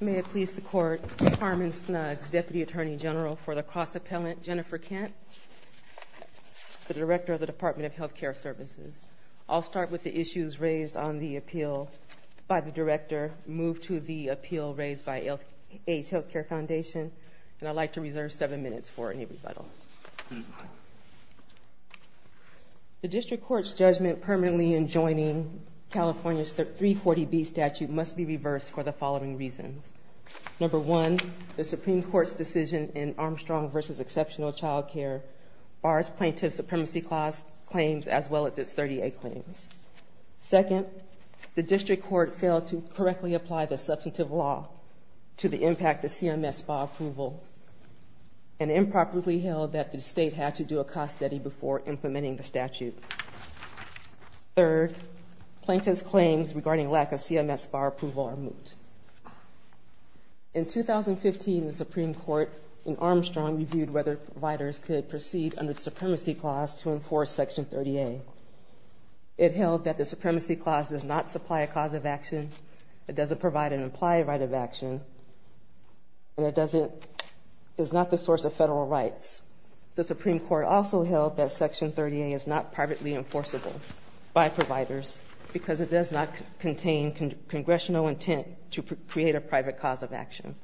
May it please the Court, Carmen Snuds, Deputy Attorney General for the Cross-Appellant, Jennifer Kent, the Director of the Department of Health Care Services. I'll start with the issues raised on the appeal by the Director, move to the appeal raised by Aids Healthcare Foundation, and I'd like to reserve seven minutes for any rebuttal. The District Court's judgment permanently in joining California's 340B statute must be reversed for the following reasons. Number one, the Supreme Court's decision in Armstrong v. Exceptional Child Care bars plaintiff supremacy claims as well as its 30A claims. Second, the District Court failed to correctly apply the substantive law to the impact of CMS file approval, and improperly held that the state had to do a cost study before implementing the statute. Third, plaintiff's claims regarding lack of CMS bar approval are moot. In 2015, the Supreme Court in Armstrong reviewed whether providers could proceed under the supremacy clause to enforce Section 30A. It held that the supremacy clause does not supply a cause of action, it doesn't provide an implied right of action, and it is not the source of federal rights. The Supreme Court also held that Section 30A is not privately enforceable by providers, because it does not contain congressional intent to create a private cause of action.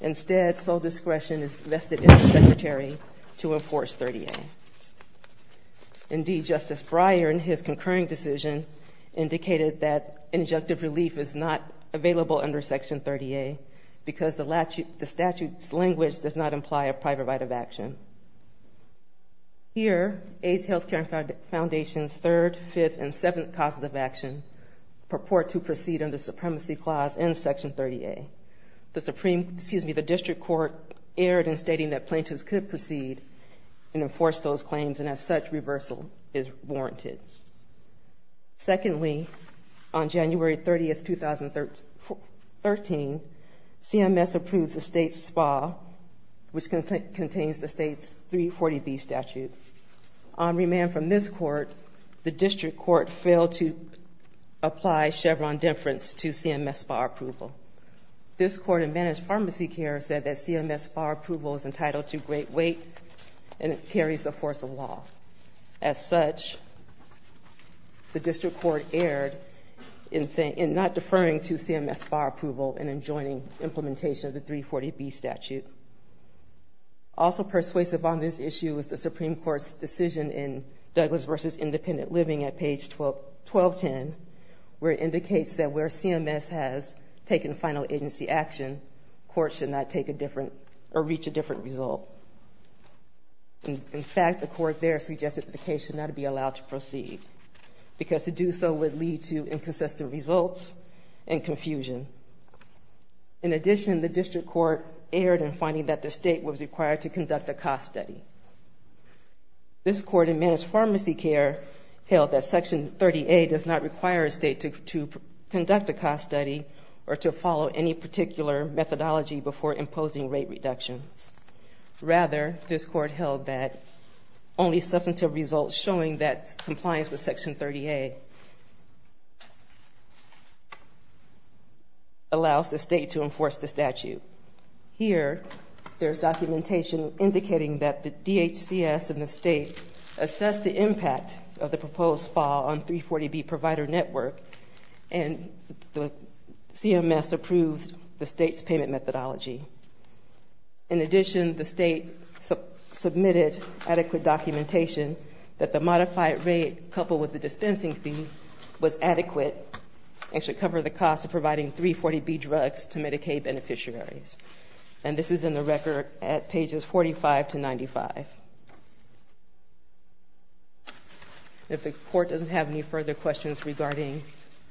Instead, sole discretion is vested in the Secretary to enforce 30A. Indeed, Justice Fryer, in his concurring decision, indicated that injunctive relief is not available under Section 30A, because the statute's language does not imply a private right of action. Here, AIDS Healthcare Foundation's third, fifth, and seventh causes of action purport to proceed under supremacy clause in Section 30A. The District Court erred in stating that Secondly, on January 30th, 2013, CMS approved the state's SPA, which contains the state's 340B statute. On remand from this Court, the District Court failed to apply Chevron deference to CMS bar approval. This Court in Managed Pharmacy Care said that CMS bar approval is The District Court erred in not deferring to CMS bar approval and in joining implementation of the 340B statute. Also persuasive on this issue is the Supreme Court's decision in Douglas v. Independent Living at page 1210, where it indicates that where CMS has taken final agency action, courts should not take a different, or reach a different result. In fact, the court there suggested that the case should not be allowed to proceed, because to do so would lead to inconsistent results and confusion. In addition, the District Court erred in finding that the state was required to conduct a cost study. This Court in Managed Pharmacy Care held that Section 30A does not require a state to conduct a cost study or to follow any particular methodology before imposing rate reductions. Rather, this Court held that only substantive results showing that compliance with Section 30A allows the state to enforce the statute. Here, there's documentation indicating that the DHCS and CMS approved the state's payment methodology. In addition, the state submitted adequate documentation that the modified rate coupled with the dispensing fee was adequate and should cover the cost of providing 340B drugs to Medicaid beneficiaries. And this is in the record at pages 45 to 95. If the Court doesn't have any further questions regarding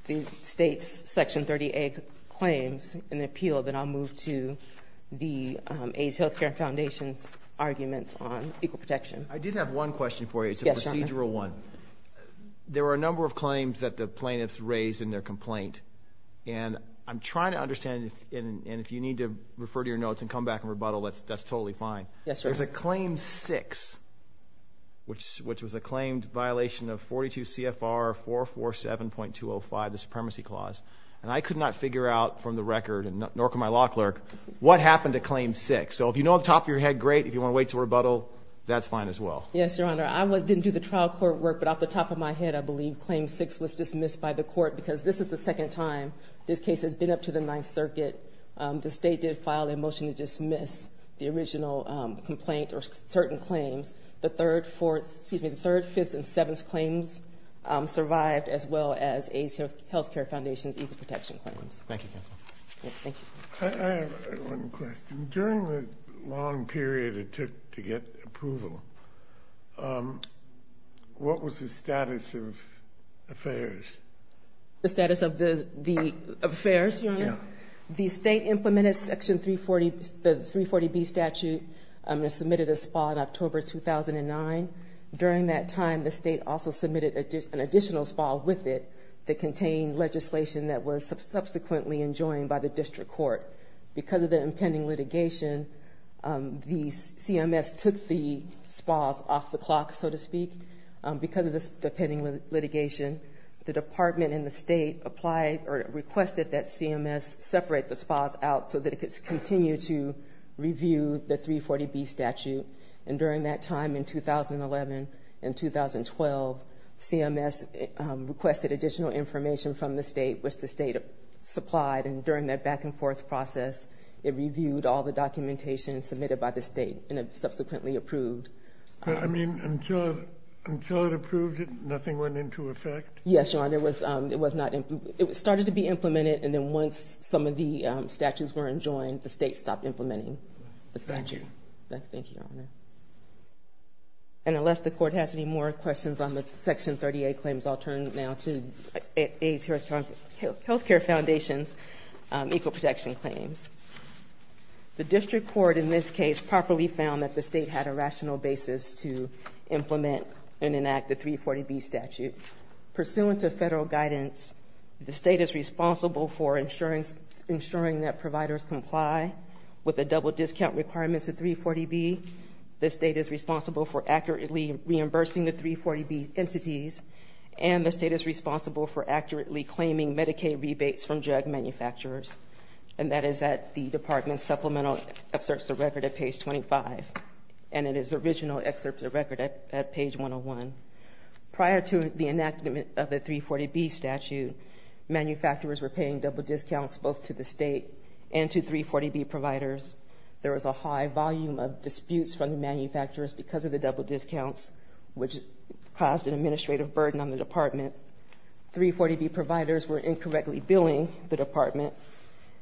the state's Section 30A claims in the appeal, then I'll move to the AIDS Healthcare Foundation's arguments on equal protection. I did have one question for you. It's a procedural one. There were a number of claims that the plaintiffs raised in their complaint. And I'm trying to understand, and if you need to refer to your notes and come back and rebuttal, that's totally fine. Yes, sir. There's a Claim 6, which was a claimed violation of 42 CFR 447.205, the Supremacy Clause. And I could not figure out from the record, nor could my law clerk, what happened to Claim 6. So if you know off the top of your head, great. If you want to wait to rebuttal, that's fine as well. Yes, Your Honor. I didn't do the trial court work, but off the top of my head, I believe Claim 6 was dismissed by the Court because this is the second time this case has been up to the Ninth Circuit. The state did file a motion to dismiss the original complaint or certain claims. The third, fourth, excuse me, fourth, and fifth. Wow. I have one question. During the long period it took to get approval, what was the status of affairs? The status of the affairs, Your Honor? The state implemented Section 340B statute and submitted a spol in October 2009. During that time, the state also submitted an additional spol with it that contained legislation that was subsequently enjoined by the district court. Because of the impending litigation, the CMS took the spols off the clock, so to speak, because of the impending litigation. The department and the state applied or requested that CMS separate the spols out so that it could continue to review the 340B statute. During that time, in 2011 and 2012, CMS requested additional information from the state, which the state supplied. During that back-and-forth process, it reviewed all the documentation submitted by the state and subsequently approved. Until it approved it, nothing went into effect? Yes, Your Honor. It started to be implemented and then once some of the statutes were enjoined, the state stopped implementing the statute. Thank you. Thank you, Your Honor. And unless the court has any more questions on the Section 30A claims, I'll turn now to AIDS Healthcare Foundation's equal protection claims. The district court in this case properly found that the state had a rational basis to implement and enact the 340B statute. Pursuant to federal guidance, the state is responsible for ensuring that providers comply with the double discount requirements of 340B. The state is responsible for accurately reimbursing the 340B entities, and the state is responsible for accurately claiming Medicaid rebates from drug manufacturers, and that is at the department's supplemental excerpts of record at page 25, and in its original excerpts of record at page 101. Prior to the enactment of the 340B statute, manufacturers were paying double discounts both to the state and to 340B providers. There was a high volume of disputes from the manufacturers because of the double discounts, which caused an administrative burden on the department. 340B providers were incorrectly billing the department,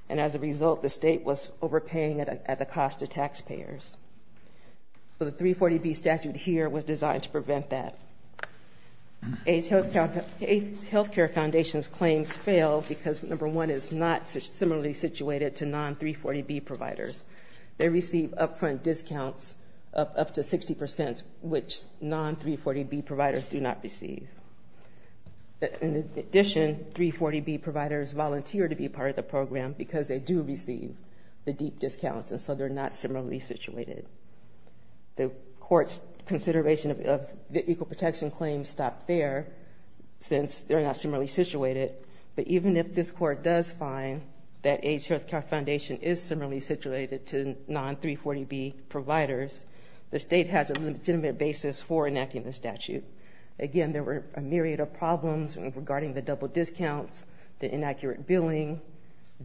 and as a result, the state was overpaying at the cost to taxpayers. The 340B statute here was designed to prevent that. AIDS Healthcare Foundation's claims failed because, number one, it's not similarly situated to non-340B providers. They receive upfront discounts of up to 60%, which non-340B providers do not receive. In addition, 340B providers volunteer to be part of the program because they do receive the deep discounts, and so they're not similarly situated. The court's consideration of the equal protection claims stopped there since they're not similarly situated, but even if this court does find that AIDS Healthcare Foundation is similarly situated to non-340B providers, the state has a legitimate basis for enacting the statute. Again, there were a myriad of problems regarding the double discounts, the inaccurate billing,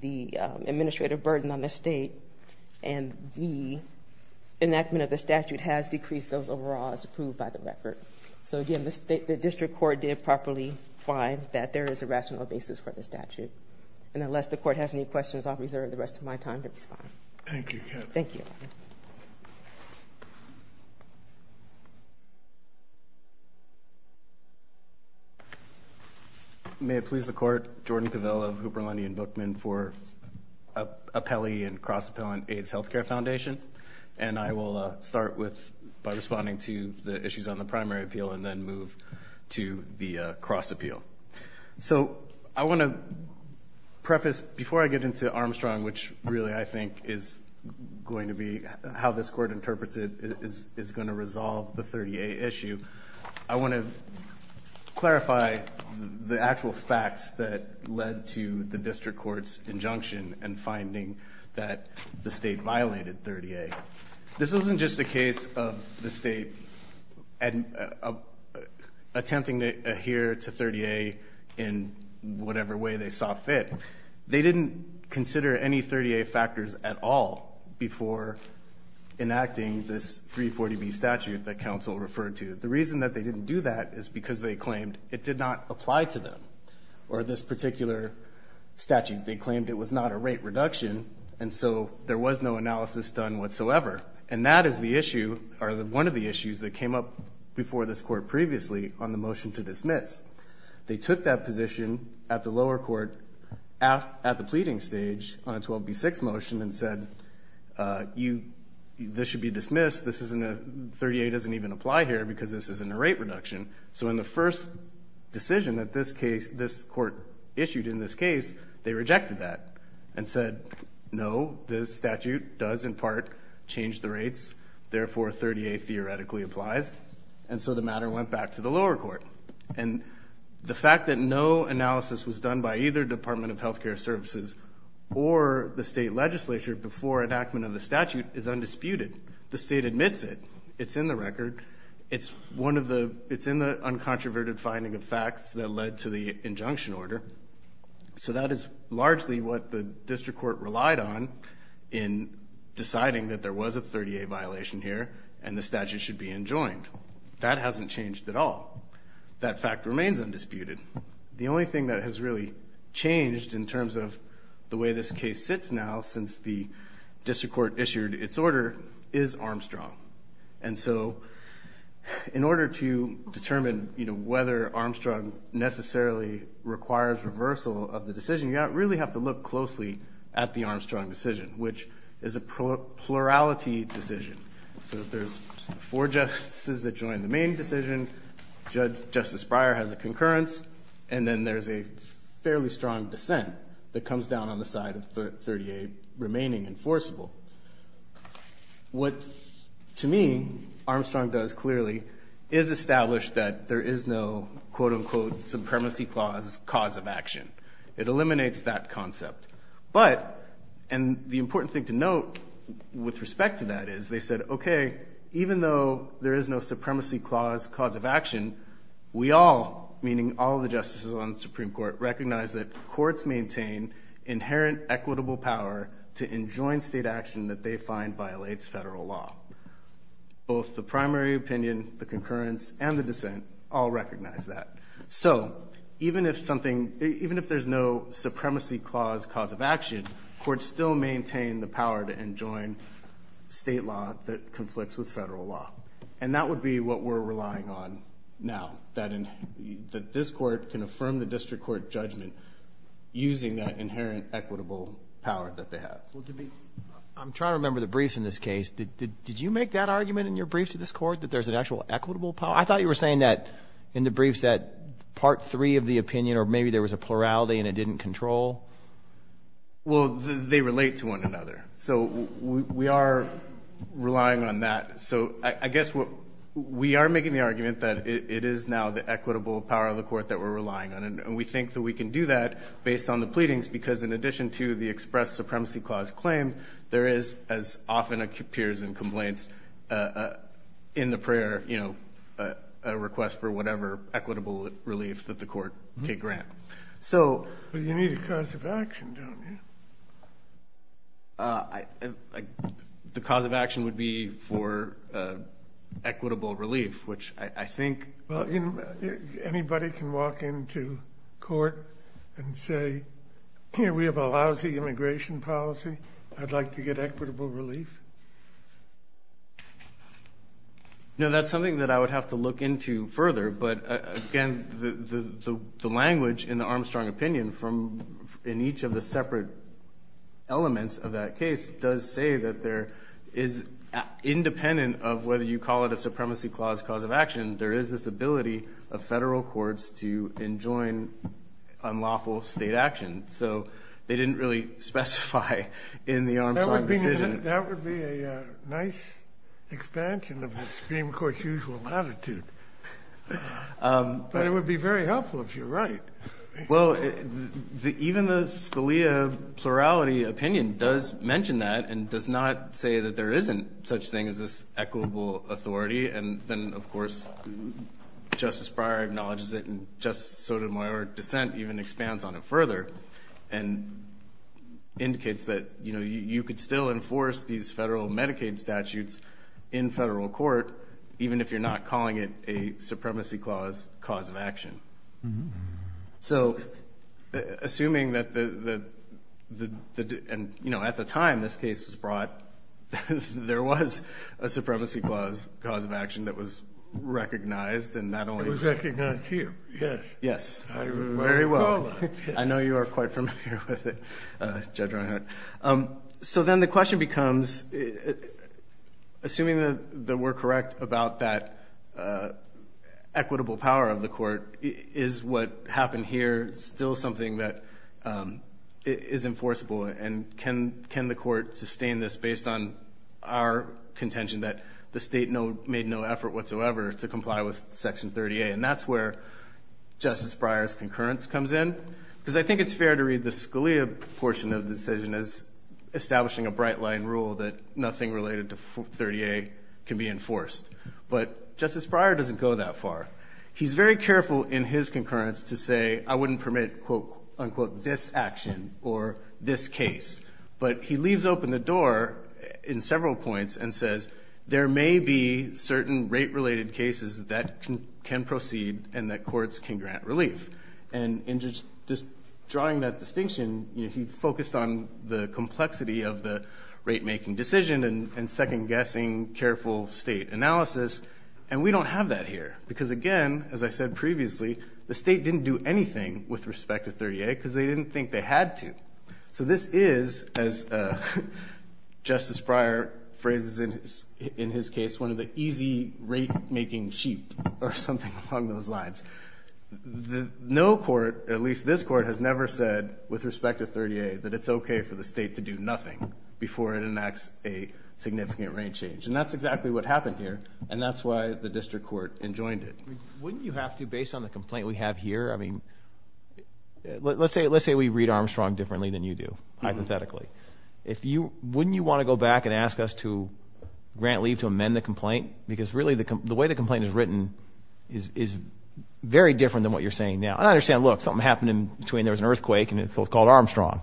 the administrative burden on the state, and the enactment of the statute has decreased those overall as approved by the record. Again, the district court did properly find that there is a rational basis for the statute. Unless the court has any questions, I'll reserve the rest of my time to respond. May it please the Court, Jordan Cavella of Hooper, Lundy & Bookman for appellee and cross-appellant AIDS Healthcare Foundation, and I will start by responding to the issues on the primary appeal and then move to the cross-appeal. So I want to preface, before I get into Armstrong, which really I think is going to be how this court interprets it, is going to resolve the factual facts that led to the district court's injunction and finding that the state violated 30A. This wasn't just a case of the state attempting to adhere to 30A in whatever way they saw fit. They didn't consider any 30A factors at all before enacting this 340B statute that counsel referred to. The reason that they didn't do that is because they claimed it did not apply to them, or this particular statute. They claimed it was not a rate reduction, and so there was no analysis done whatsoever. And that is the issue, or one of the issues that came up before this court previously on the motion to dismiss. They took that position at the lower court at the pleading stage on a 12B6 motion and said, this should be dismissed. This isn't a, 30A doesn't even apply here because this isn't a rate reduction. So in the first decision that this case, this court issued in this case, they rejected that and said, no, this statute does in part change the rates, therefore 30A theoretically applies. And so the matter went back to the lower court. And the fact that no analysis was done by either Department of Health Care Services or the state legislature before enactment of the statute is undisputed. The state admits it. It's in the record. It's one of the, it's in the uncontroverted finding of facts that led to the injunction order. So that is largely what the district court relied on in deciding that there was a 30A violation here and the statute should be enjoined. That hasn't changed at all. That fact remains undisputed. The only thing that has really changed in terms of the way this case sits now since the district court issued its order is Armstrong. And so in order to determine, you know, whether Armstrong necessarily requires reversal of the decision, you really have to look closely at the Armstrong decision, which is a plurality decision. So there's four justices that joined the main decision. Judge Justice Breyer has a concurrence. And then there's a fairly strong dissent that comes down on the side of the 30A remaining enforceable. What, to me, Armstrong does clearly is establish that there is no, quote unquote, supremacy clause cause of action. It eliminates that concept. But, and the important thing to note with respect to that is they said, okay, even though there is no supremacy clause cause of action, we all, meaning all the justices on the Supreme Court, recognize that courts maintain inherent equitable power to enjoin state action that they find violates federal law. Both the primary opinion, the concurrence, and the dissent all recognize that. So even if something, even if there's no supremacy clause cause of action, courts still maintain the power to enjoin state law that conflicts with federal law. And that would be what we're relying on now, that this court can affirm the district court judgment using that inherent equitable power that they have. Well, to me, I'm trying to remember the briefs in this case. Did you make that argument in your briefs to this court, that there's an actual equitable power? I thought you were saying that in the briefs that part three of the opinion, or maybe there was a plurality and it didn't control. Well, they relate to one another. So we are relying on that. So I guess what, we are making the argument that it is now the equitable power of the court that we're relying on. And we think that we can do that based on the pleadings, because in addition to the express supremacy clause claim, there is, as often appears in complaints, in the prayer, you know, a request for whatever equitable relief that the court may grant. So- But you need a cause of action, don't you? I, the cause of action would be for equitable relief, which I think- Well, anybody can walk into court and say, here, we have a lousy immigration policy. I'd like to get equitable relief. No, that's something that I would have to look into further. But again, the language in the Armstrong opinion from, in each of the separate elements of that case does say that there is, independent of whether you call it a supremacy clause cause of action, there is this ability of federal courts to enjoin unlawful state action. So they didn't really specify in the Armstrong decision- That would be a nice expansion of the Supreme Court's usual latitude. But it would be very Well, even the Scalia plurality opinion does mention that and does not say that there isn't such thing as this equitable authority. And then, of course, Justice Breyer acknowledges it and Justice Sotomayor's dissent even expands on it further and indicates that, you know, you could still enforce these federal Medicaid statutes in federal court, even if you're not calling it a supremacy clause cause of action. So, assuming that the, and you know, at the time this case was brought, there was a supremacy clause cause of action that was recognized and not only- It was recognized here, yes. Yes, very well. I know you are quite familiar with it, Judge Reinhart. So then the question is, is what happened here still something that is enforceable? And can the court sustain this based on our contention that the state made no effort whatsoever to comply with Section 30A? And that's where Justice Breyer's concurrence comes in. Because I think it's fair to read the Scalia portion of the decision as establishing a bright line rule that nothing related to his concurrence to say, I wouldn't permit, quote, unquote, this action or this case. But he leaves open the door in several points and says, there may be certain rate-related cases that can proceed and that courts can grant relief. And in just drawing that distinction, he focused on the complexity of the rate-making decision and second-guessing careful state analysis. And we don't have that here. Because again, as I said previously, the state didn't do anything with respect to 30A because they didn't think they had to. So this is, as Justice Breyer phrases it in his case, one of the easy rate-making sheep or something along those lines. No court, at least this court, has never said with respect to 30A that it's okay for the state to do nothing before it enacts a significant rate change. And that's exactly what happened here. And that's why the district court enjoined it. Wouldn't you have to, based on the complaint we have here, I mean, let's say we read Armstrong differently than you do, hypothetically. Wouldn't you want to go back and ask us to grant leave to amend the complaint? Because really, the way the complaint is written is very different than what you're saying now. And I understand, look, something happened in between, there was an earthquake and it was called Armstrong.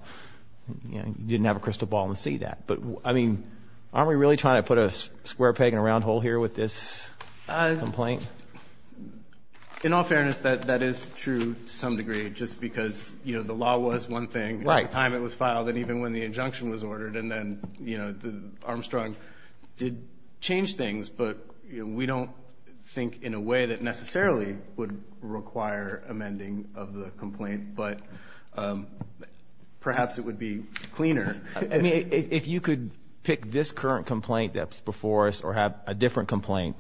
You didn't have a crystal ball and see that. But, I mean, aren't we really trying to put a square peg in a round hole here with this complaint? In all fairness, that is true to some degree, just because the law was one thing at the time it was filed and even when the injunction was ordered. And then Armstrong did change things, but we don't think in a way that necessarily would require amending of the If you could pick this current complaint that's before us or have a different complaint,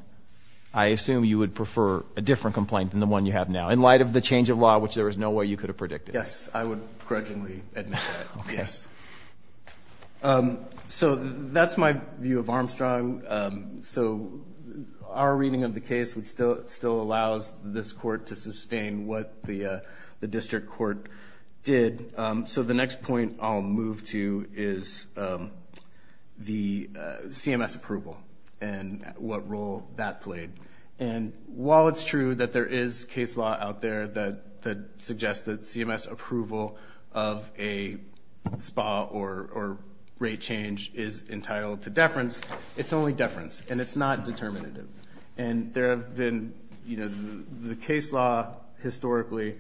I assume you would prefer a different complaint than the one you have now, in light of the change of law, which there is no way you could have predicted. Yes, I would grudgingly admit that, yes. So that's my view of Armstrong. So our reading of the case still allows this court to the CMS approval and what role that played. And while it's true that there is case law out there that suggests that CMS approval of a SPA or rate change is entitled to deference, it's only deference and it's not determinative. And there have been, you know, the case law historically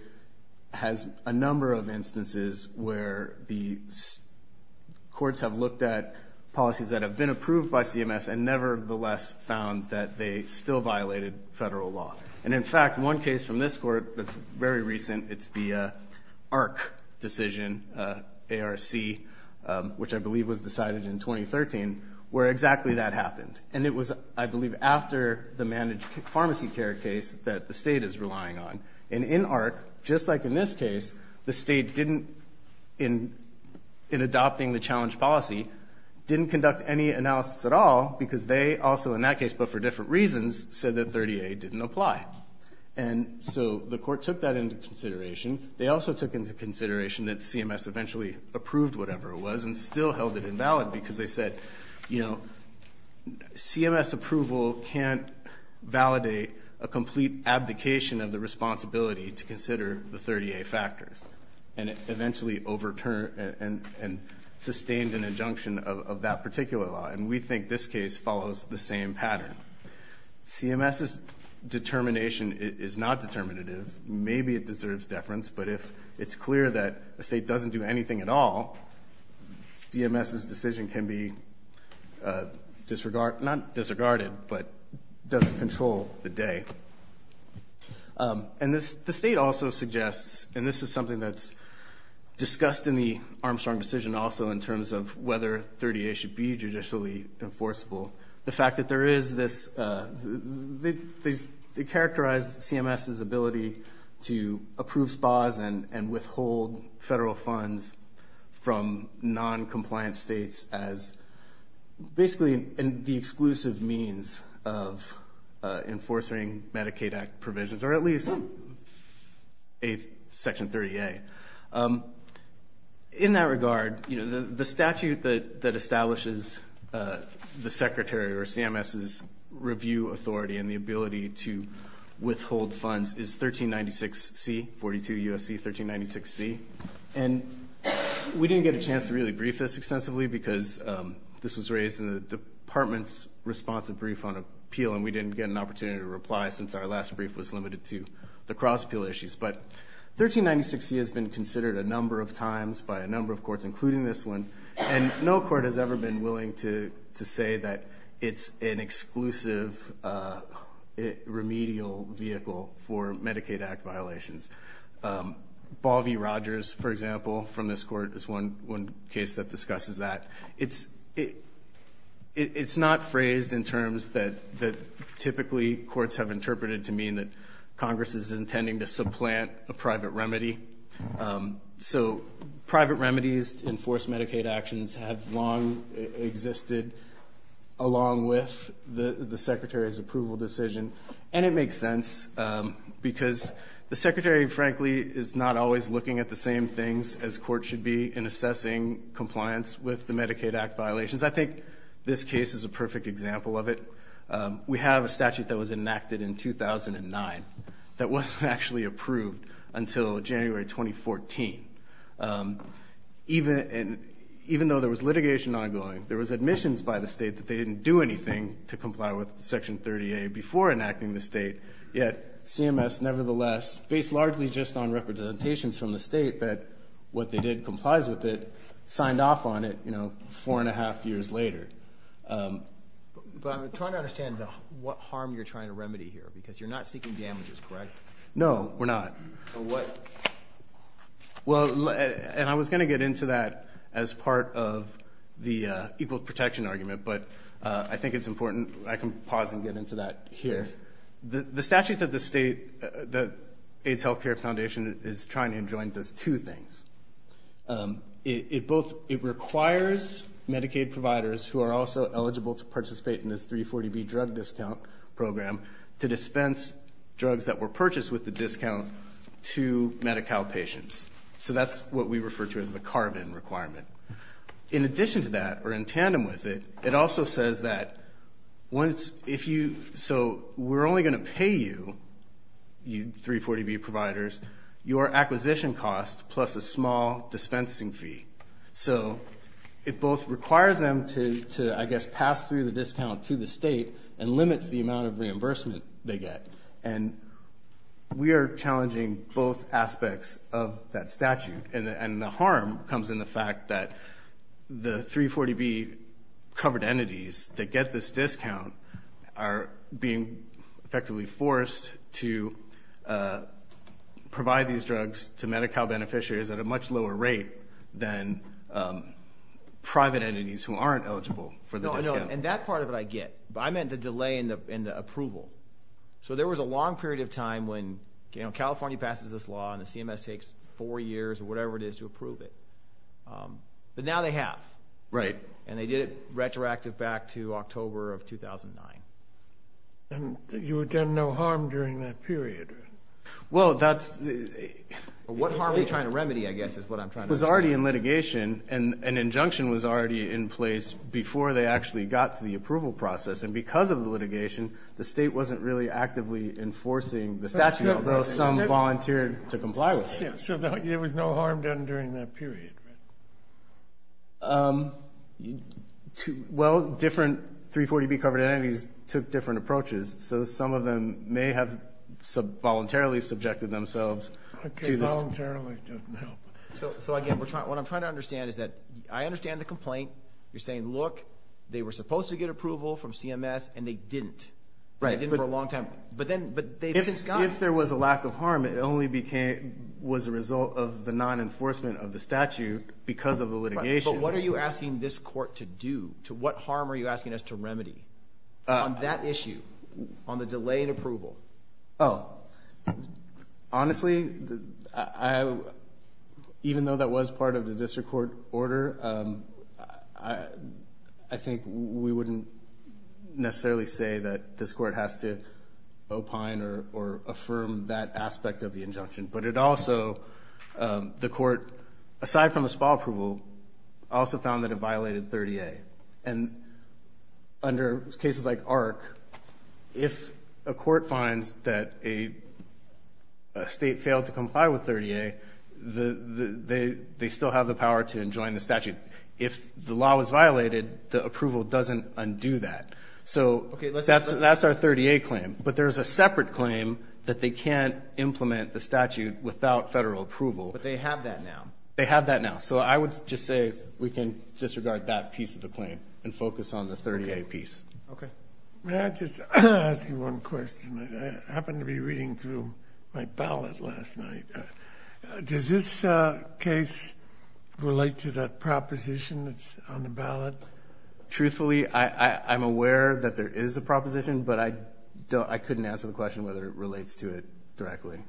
has a number of instances where the courts have looked at policies that have been approved by CMS and nevertheless found that they still violated federal law. And in fact, one case from this court that's very recent, it's the ARC decision, ARC, which I believe was decided in 2013, where exactly that happened. And it was, I believe, after the managed pharmacy care case that the state is relying on. And in ARC, just like in this case, the state didn't, in adopting the challenge policy, didn't conduct any analysis at all because they also in that case, but for different reasons, said that 30A didn't apply. And so the court took that into consideration. They also took into consideration that CMS eventually approved whatever it was and still held it invalid because they said, you know, we can't validate a complete abdication of the responsibility to consider the 30A factors. And it eventually overturned and sustained an injunction of that particular law. And we think this case follows the same pattern. CMS's determination is not determinative. Maybe it deserves deference, but if it's clear that a state doesn't do anything at all, CMS's decision can be disregarded, not disregarded, but doesn't control the day. And the state also suggests, and this is something that's discussed in the Armstrong decision also in terms of whether 30A should be judicially enforceable, the fact that there is this, they characterized CMS's ability to approve spas and withhold federal funds from noncompliant states as basically the exclusive means of enforcing Medicaid Act provisions, or at least Section 30A. In that regard, the statute that establishes the Secretary or CMS's review authority and the ability to withhold funds is 1396C, 42 U.S.C., 1396C. And we didn't get a chance to really brief this extensively because this was raised in the Department's responsive brief on appeal, and we didn't get an opportunity to reply since our last brief was limited to the cross-appeal issues. But 1396C has been considered a number of times by a number of courts, including this one, and no court has ever been willing to say that it's an exclusive remedial vehicle for Medicaid Act violations. Balvey Rogers, for example, from this court, is one case that discusses that. It's not phrased in terms that typically courts have interpreted to mean that Congress is intending to supplant a private remedy. So private remedies to enforce Medicaid actions have long existed along with the Secretary's approval decision, and it makes sense because the Secretary, frankly, is not always looking at the same things as courts should be in assessing compliance with the Medicaid Act violations. I think this case is a perfect example of it. We have a statute that was enacted in 2009 that wasn't actually approved until January 2014. Even though there was litigation ongoing, there was admissions by the State that they didn't do anything to comply with Section 30A before enacting the State, yet CMS, nevertheless, based largely just on representations from the State that what they did complies with it, signed off on it, you know, four and a half years later. But I'm trying to understand what harm you're trying to remedy here, because you're not seeking damages, correct? No, we're not. So what? Well, and I was going to get into that as part of the equal protection argument, but I think it's important I can pause and get into that here. Yes. So the statute that the AIDS Healthcare Foundation is trying to enjoin does two things. It requires Medicaid providers who are also eligible to participate in this 340B drug discount program to dispense drugs that were purchased with the discount to Medi-Cal patients. So that's what we refer to as the carve-in requirement. In addition to that, or in tandem with it, it also says that once, if you, so we're only going to pay you, you 340B providers, your acquisition cost plus a small dispensing fee. So it both requires them to, I guess, pass through the discount to the State and limits the amount of reimbursement they get. And we are challenging both aspects of that statute. And the harm comes in the fact that the 340B covered entities that get this discount are being effectively forced to provide these drugs to Medi-Cal beneficiaries at a much lower rate than private entities who aren't eligible for the discount. No, and that part of it I get. I meant the delay in the approval. So there was a long period of time when, you know, California passes this law and the CMS takes four years or whatever it is to approve it. But now they have. Right. And they did it retroactively back to October of 2009. And you had done no harm during that period? Well, that's the... What harm are you trying to remedy, I guess, is what I'm trying to understand. It was already in litigation and an injunction was already in place before they actually got to the approval process. And because of the litigation, the State wasn't really actively enforcing the statute, although some volunteered to comply with it. So there was no harm done during that period, right? Well, different 340B covered entities took different approaches. So some of them may have voluntarily subjected themselves to this... Voluntarily doesn't help. So again, what I'm trying to understand is that I understand the complaint. You're saying, look, they were supposed to get approval from CMS and they didn't. Right. They didn't for a long time. But then... If there was a lack of harm, it only was a result of the non-enforcement of the statute because of the litigation. But what are you asking this court to do? What harm are you asking us to remedy on that issue, on the delay in approval? Oh, honestly, even though that was part of the district court order, I think we wouldn't necessarily say that this court has to opine or affirm that aspect of the injunction. But it also, the court, aside from a SPA approval, also found that it violated 30A. And under cases like ARC, if a court finds that a State failed to comply with 30A, they still have the power to enjoin the statute. If the law was violated, the approval doesn't undo that. So that's our 30A claim. But there's a separate claim that they can't implement the statute without Federal approval. But they have that now. They have that now. So I would just say we can disregard that piece of the claim and focus on the 30A piece. Okay. May I just ask you one question? I happened to be reading through my ballot last night. Does this case relate to that proposition that's on the ballot? Truthfully, I'm aware that there is a proposition. But I couldn't answer the question whether it relates to it directly.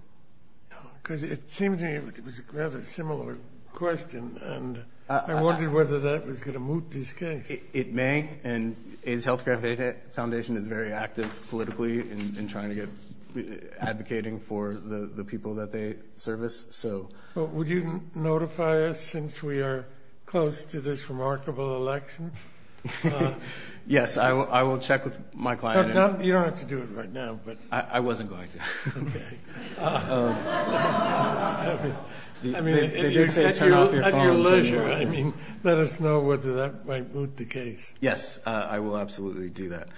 Because it seemed to me it was a rather similar question. And I wondered whether that was going to move this case. It may. And AIDS Healthcare Foundation is very active politically in trying to get advocating for the people that they service. Would you notify us since we are close to this remarkable election? Yes, I will check with my client. You don't have to do it right now. I wasn't going to. Okay. I mean, at your leisure. Let us know whether that might move the case. Yes, I will absolutely do that.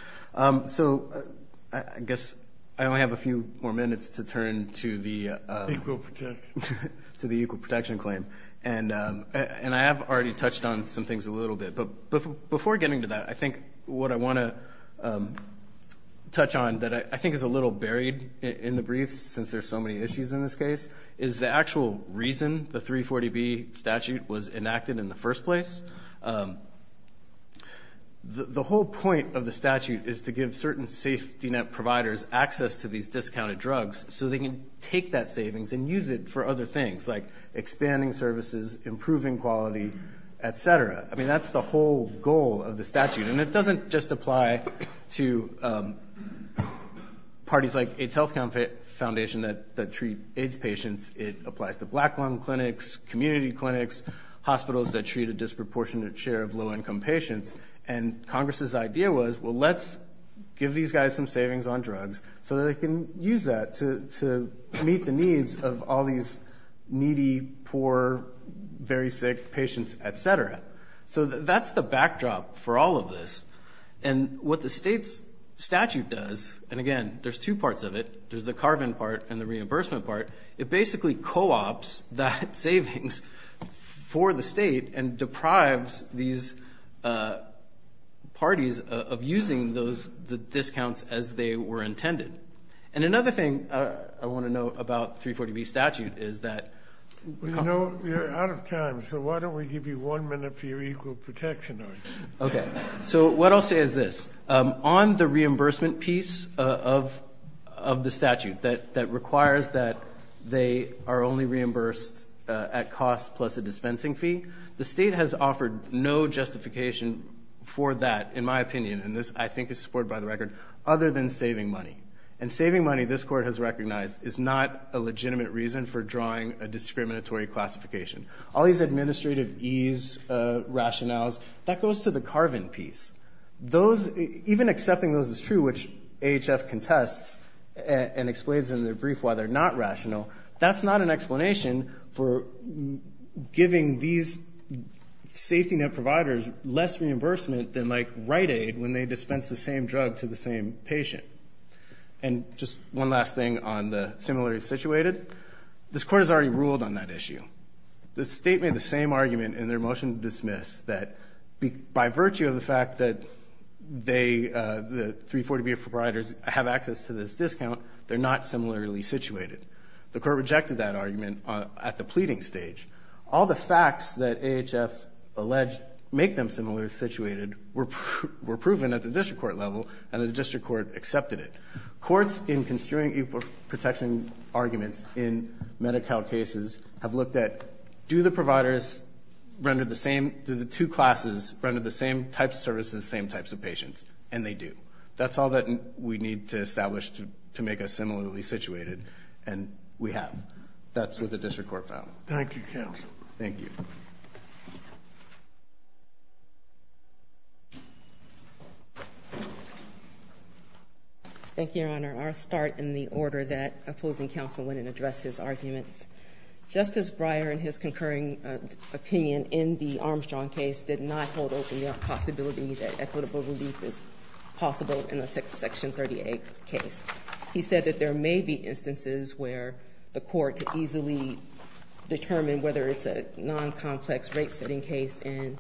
So I guess I only have a few more minutes to turn to the equal protection claim. And I have already touched on some things a little bit. But before getting to that, I think what I want to touch on that I think is a little buried in the briefs since there's so many issues in this case, is the actual reason the 340B statute was enacted in the first place. The whole point of the statute is to give certain safety net providers access to these discounted drugs so they can take that savings and use it for other things like expanding services, improving quality, et cetera. I mean, that's the whole goal of the statute. And it doesn't just apply to parties like AIDS Health Foundation that treat AIDS patients. It applies to black lung clinics, community clinics, hospitals that treat a disproportionate share of low-income patients. And Congress's idea was, well, let's give these guys some savings on drugs so they can use that to meet the needs of all these needy, poor, very sick patients, et cetera. So that's the backdrop for all of this. And what the state's statute does, and, again, there's two parts of it. There's the carbon part and the reimbursement part. It basically co-ops that savings for the state and deprives these parties of using the discounts as they were intended. And another thing I want to note about the 340B statute is that we've got to go. You know, you're out of time, so why don't we give you one minute for your equal protection argument? Okay. So what I'll say is this. On the reimbursement piece of the statute that requires that they are only reimbursed at cost plus a dispensing fee, I think the state has offered no justification for that, in my opinion, and this I think is supported by the record, other than saving money. And saving money, this Court has recognized, is not a legitimate reason for drawing a discriminatory classification. All these administrative ease rationales, that goes to the carbon piece. Those, even accepting those as true, which AHF contests and explains in the brief why they're not rational, that's not an explanation for giving these safety net providers less reimbursement than, like, Rite Aid when they dispense the same drug to the same patient. And just one last thing on the similarly situated. This Court has already ruled on that issue. The state made the same argument in their motion to dismiss that by virtue of the fact that they, the 340B providers have access to this discount, they're not similarly situated. The Court rejected that argument at the pleading stage. All the facts that AHF alleged make them similarly situated were proven at the district court level, and the district court accepted it. Courts in construing equal protection arguments in Medi-Cal cases have looked at, do the providers render the same, do the two classes render the same types of services to the same types of patients? And they do. That's all that we need to establish to make us similarly situated, and we have. That's what the district court found. Thank you, counsel. Thank you. Thank you, Your Honor. I'll start in the order that opposing counsel went and addressed his arguments. Justice Breyer, in his concurring opinion in the Armstrong case, did not hold open the possibility that equitable relief is possible in a Section 38 case. He said that there may be instances where the court could easily determine whether it's a non-complex rate-setting case and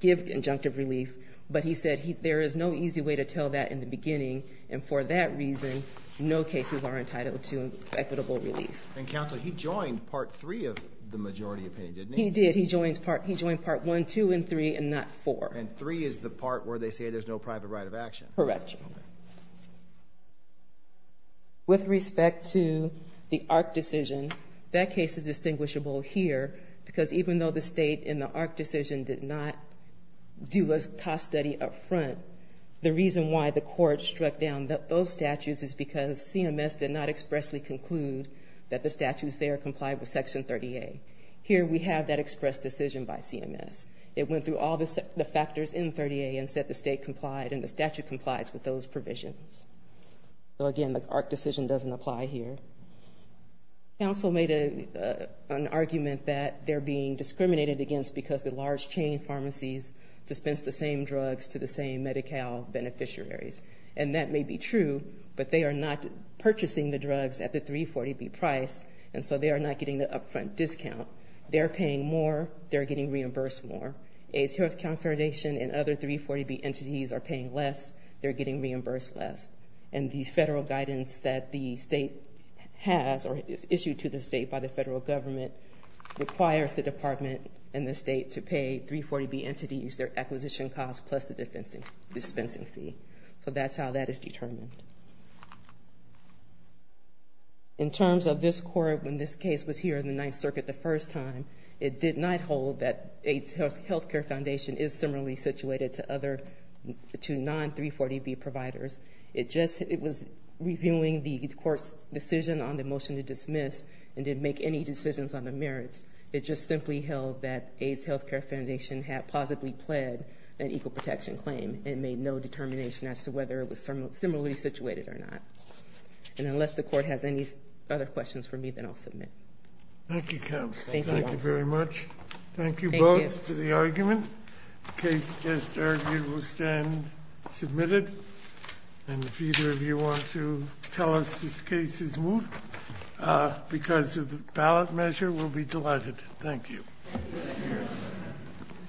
give injunctive relief, but he said there is no easy way to tell that in the beginning, and for that reason, no cases are entitled to equitable relief. And, counsel, he joined Part 3 of the majority opinion, didn't he? He did. He joined Part 1, 2, and 3, and not 4. And 3 is the part where they say there's no private right of action. Correct. With respect to the ARC decision, that case is distinguishable here because even though the state in the ARC decision did not do a cost study up front, the reason why the court struck down those statutes is because CMS did not expressly conclude that the statutes there complied with Section 38. Here we have that expressed decision by CMS. It went through all the factors in 38 and said the state complied and the statute complies with those provisions. So, again, the ARC decision doesn't apply here. Counsel made an argument that they're being discriminated against because the large chain pharmacies dispense the same drugs to the same Medi-Cal beneficiaries. And that may be true, but they are not purchasing the drugs at the 340B price, and so they are not getting the up-front discount. They're paying more. They're getting reimbursed more. AIDS Health Confirmation and other 340B entities are paying less. They're getting reimbursed less. And the federal guidance that the state has or is issued to the state by the federal government requires the department and the state to pay 340B entities their acquisition cost plus the dispensing fee. So that's how that is determined. In terms of this court, when this case was here in the Ninth Circuit the first time, it did not hold that AIDS Healthcare Foundation is similarly situated to non-340B providers. It was reviewing the court's decision on the motion to dismiss and didn't make any decisions on the merits. It just simply held that AIDS Healthcare Foundation had plausibly pled an equal protection claim and made no determination as to whether it was similarly situated or not. And unless the court has any other questions for me, then I'll submit. Thank you, Counsel. Thank you. Thank you very much. Thank you both for the argument. The case just argued will stand submitted. And if either of you want to tell us this case is moved because of the ballot measure, we'll be delighted. Thank you.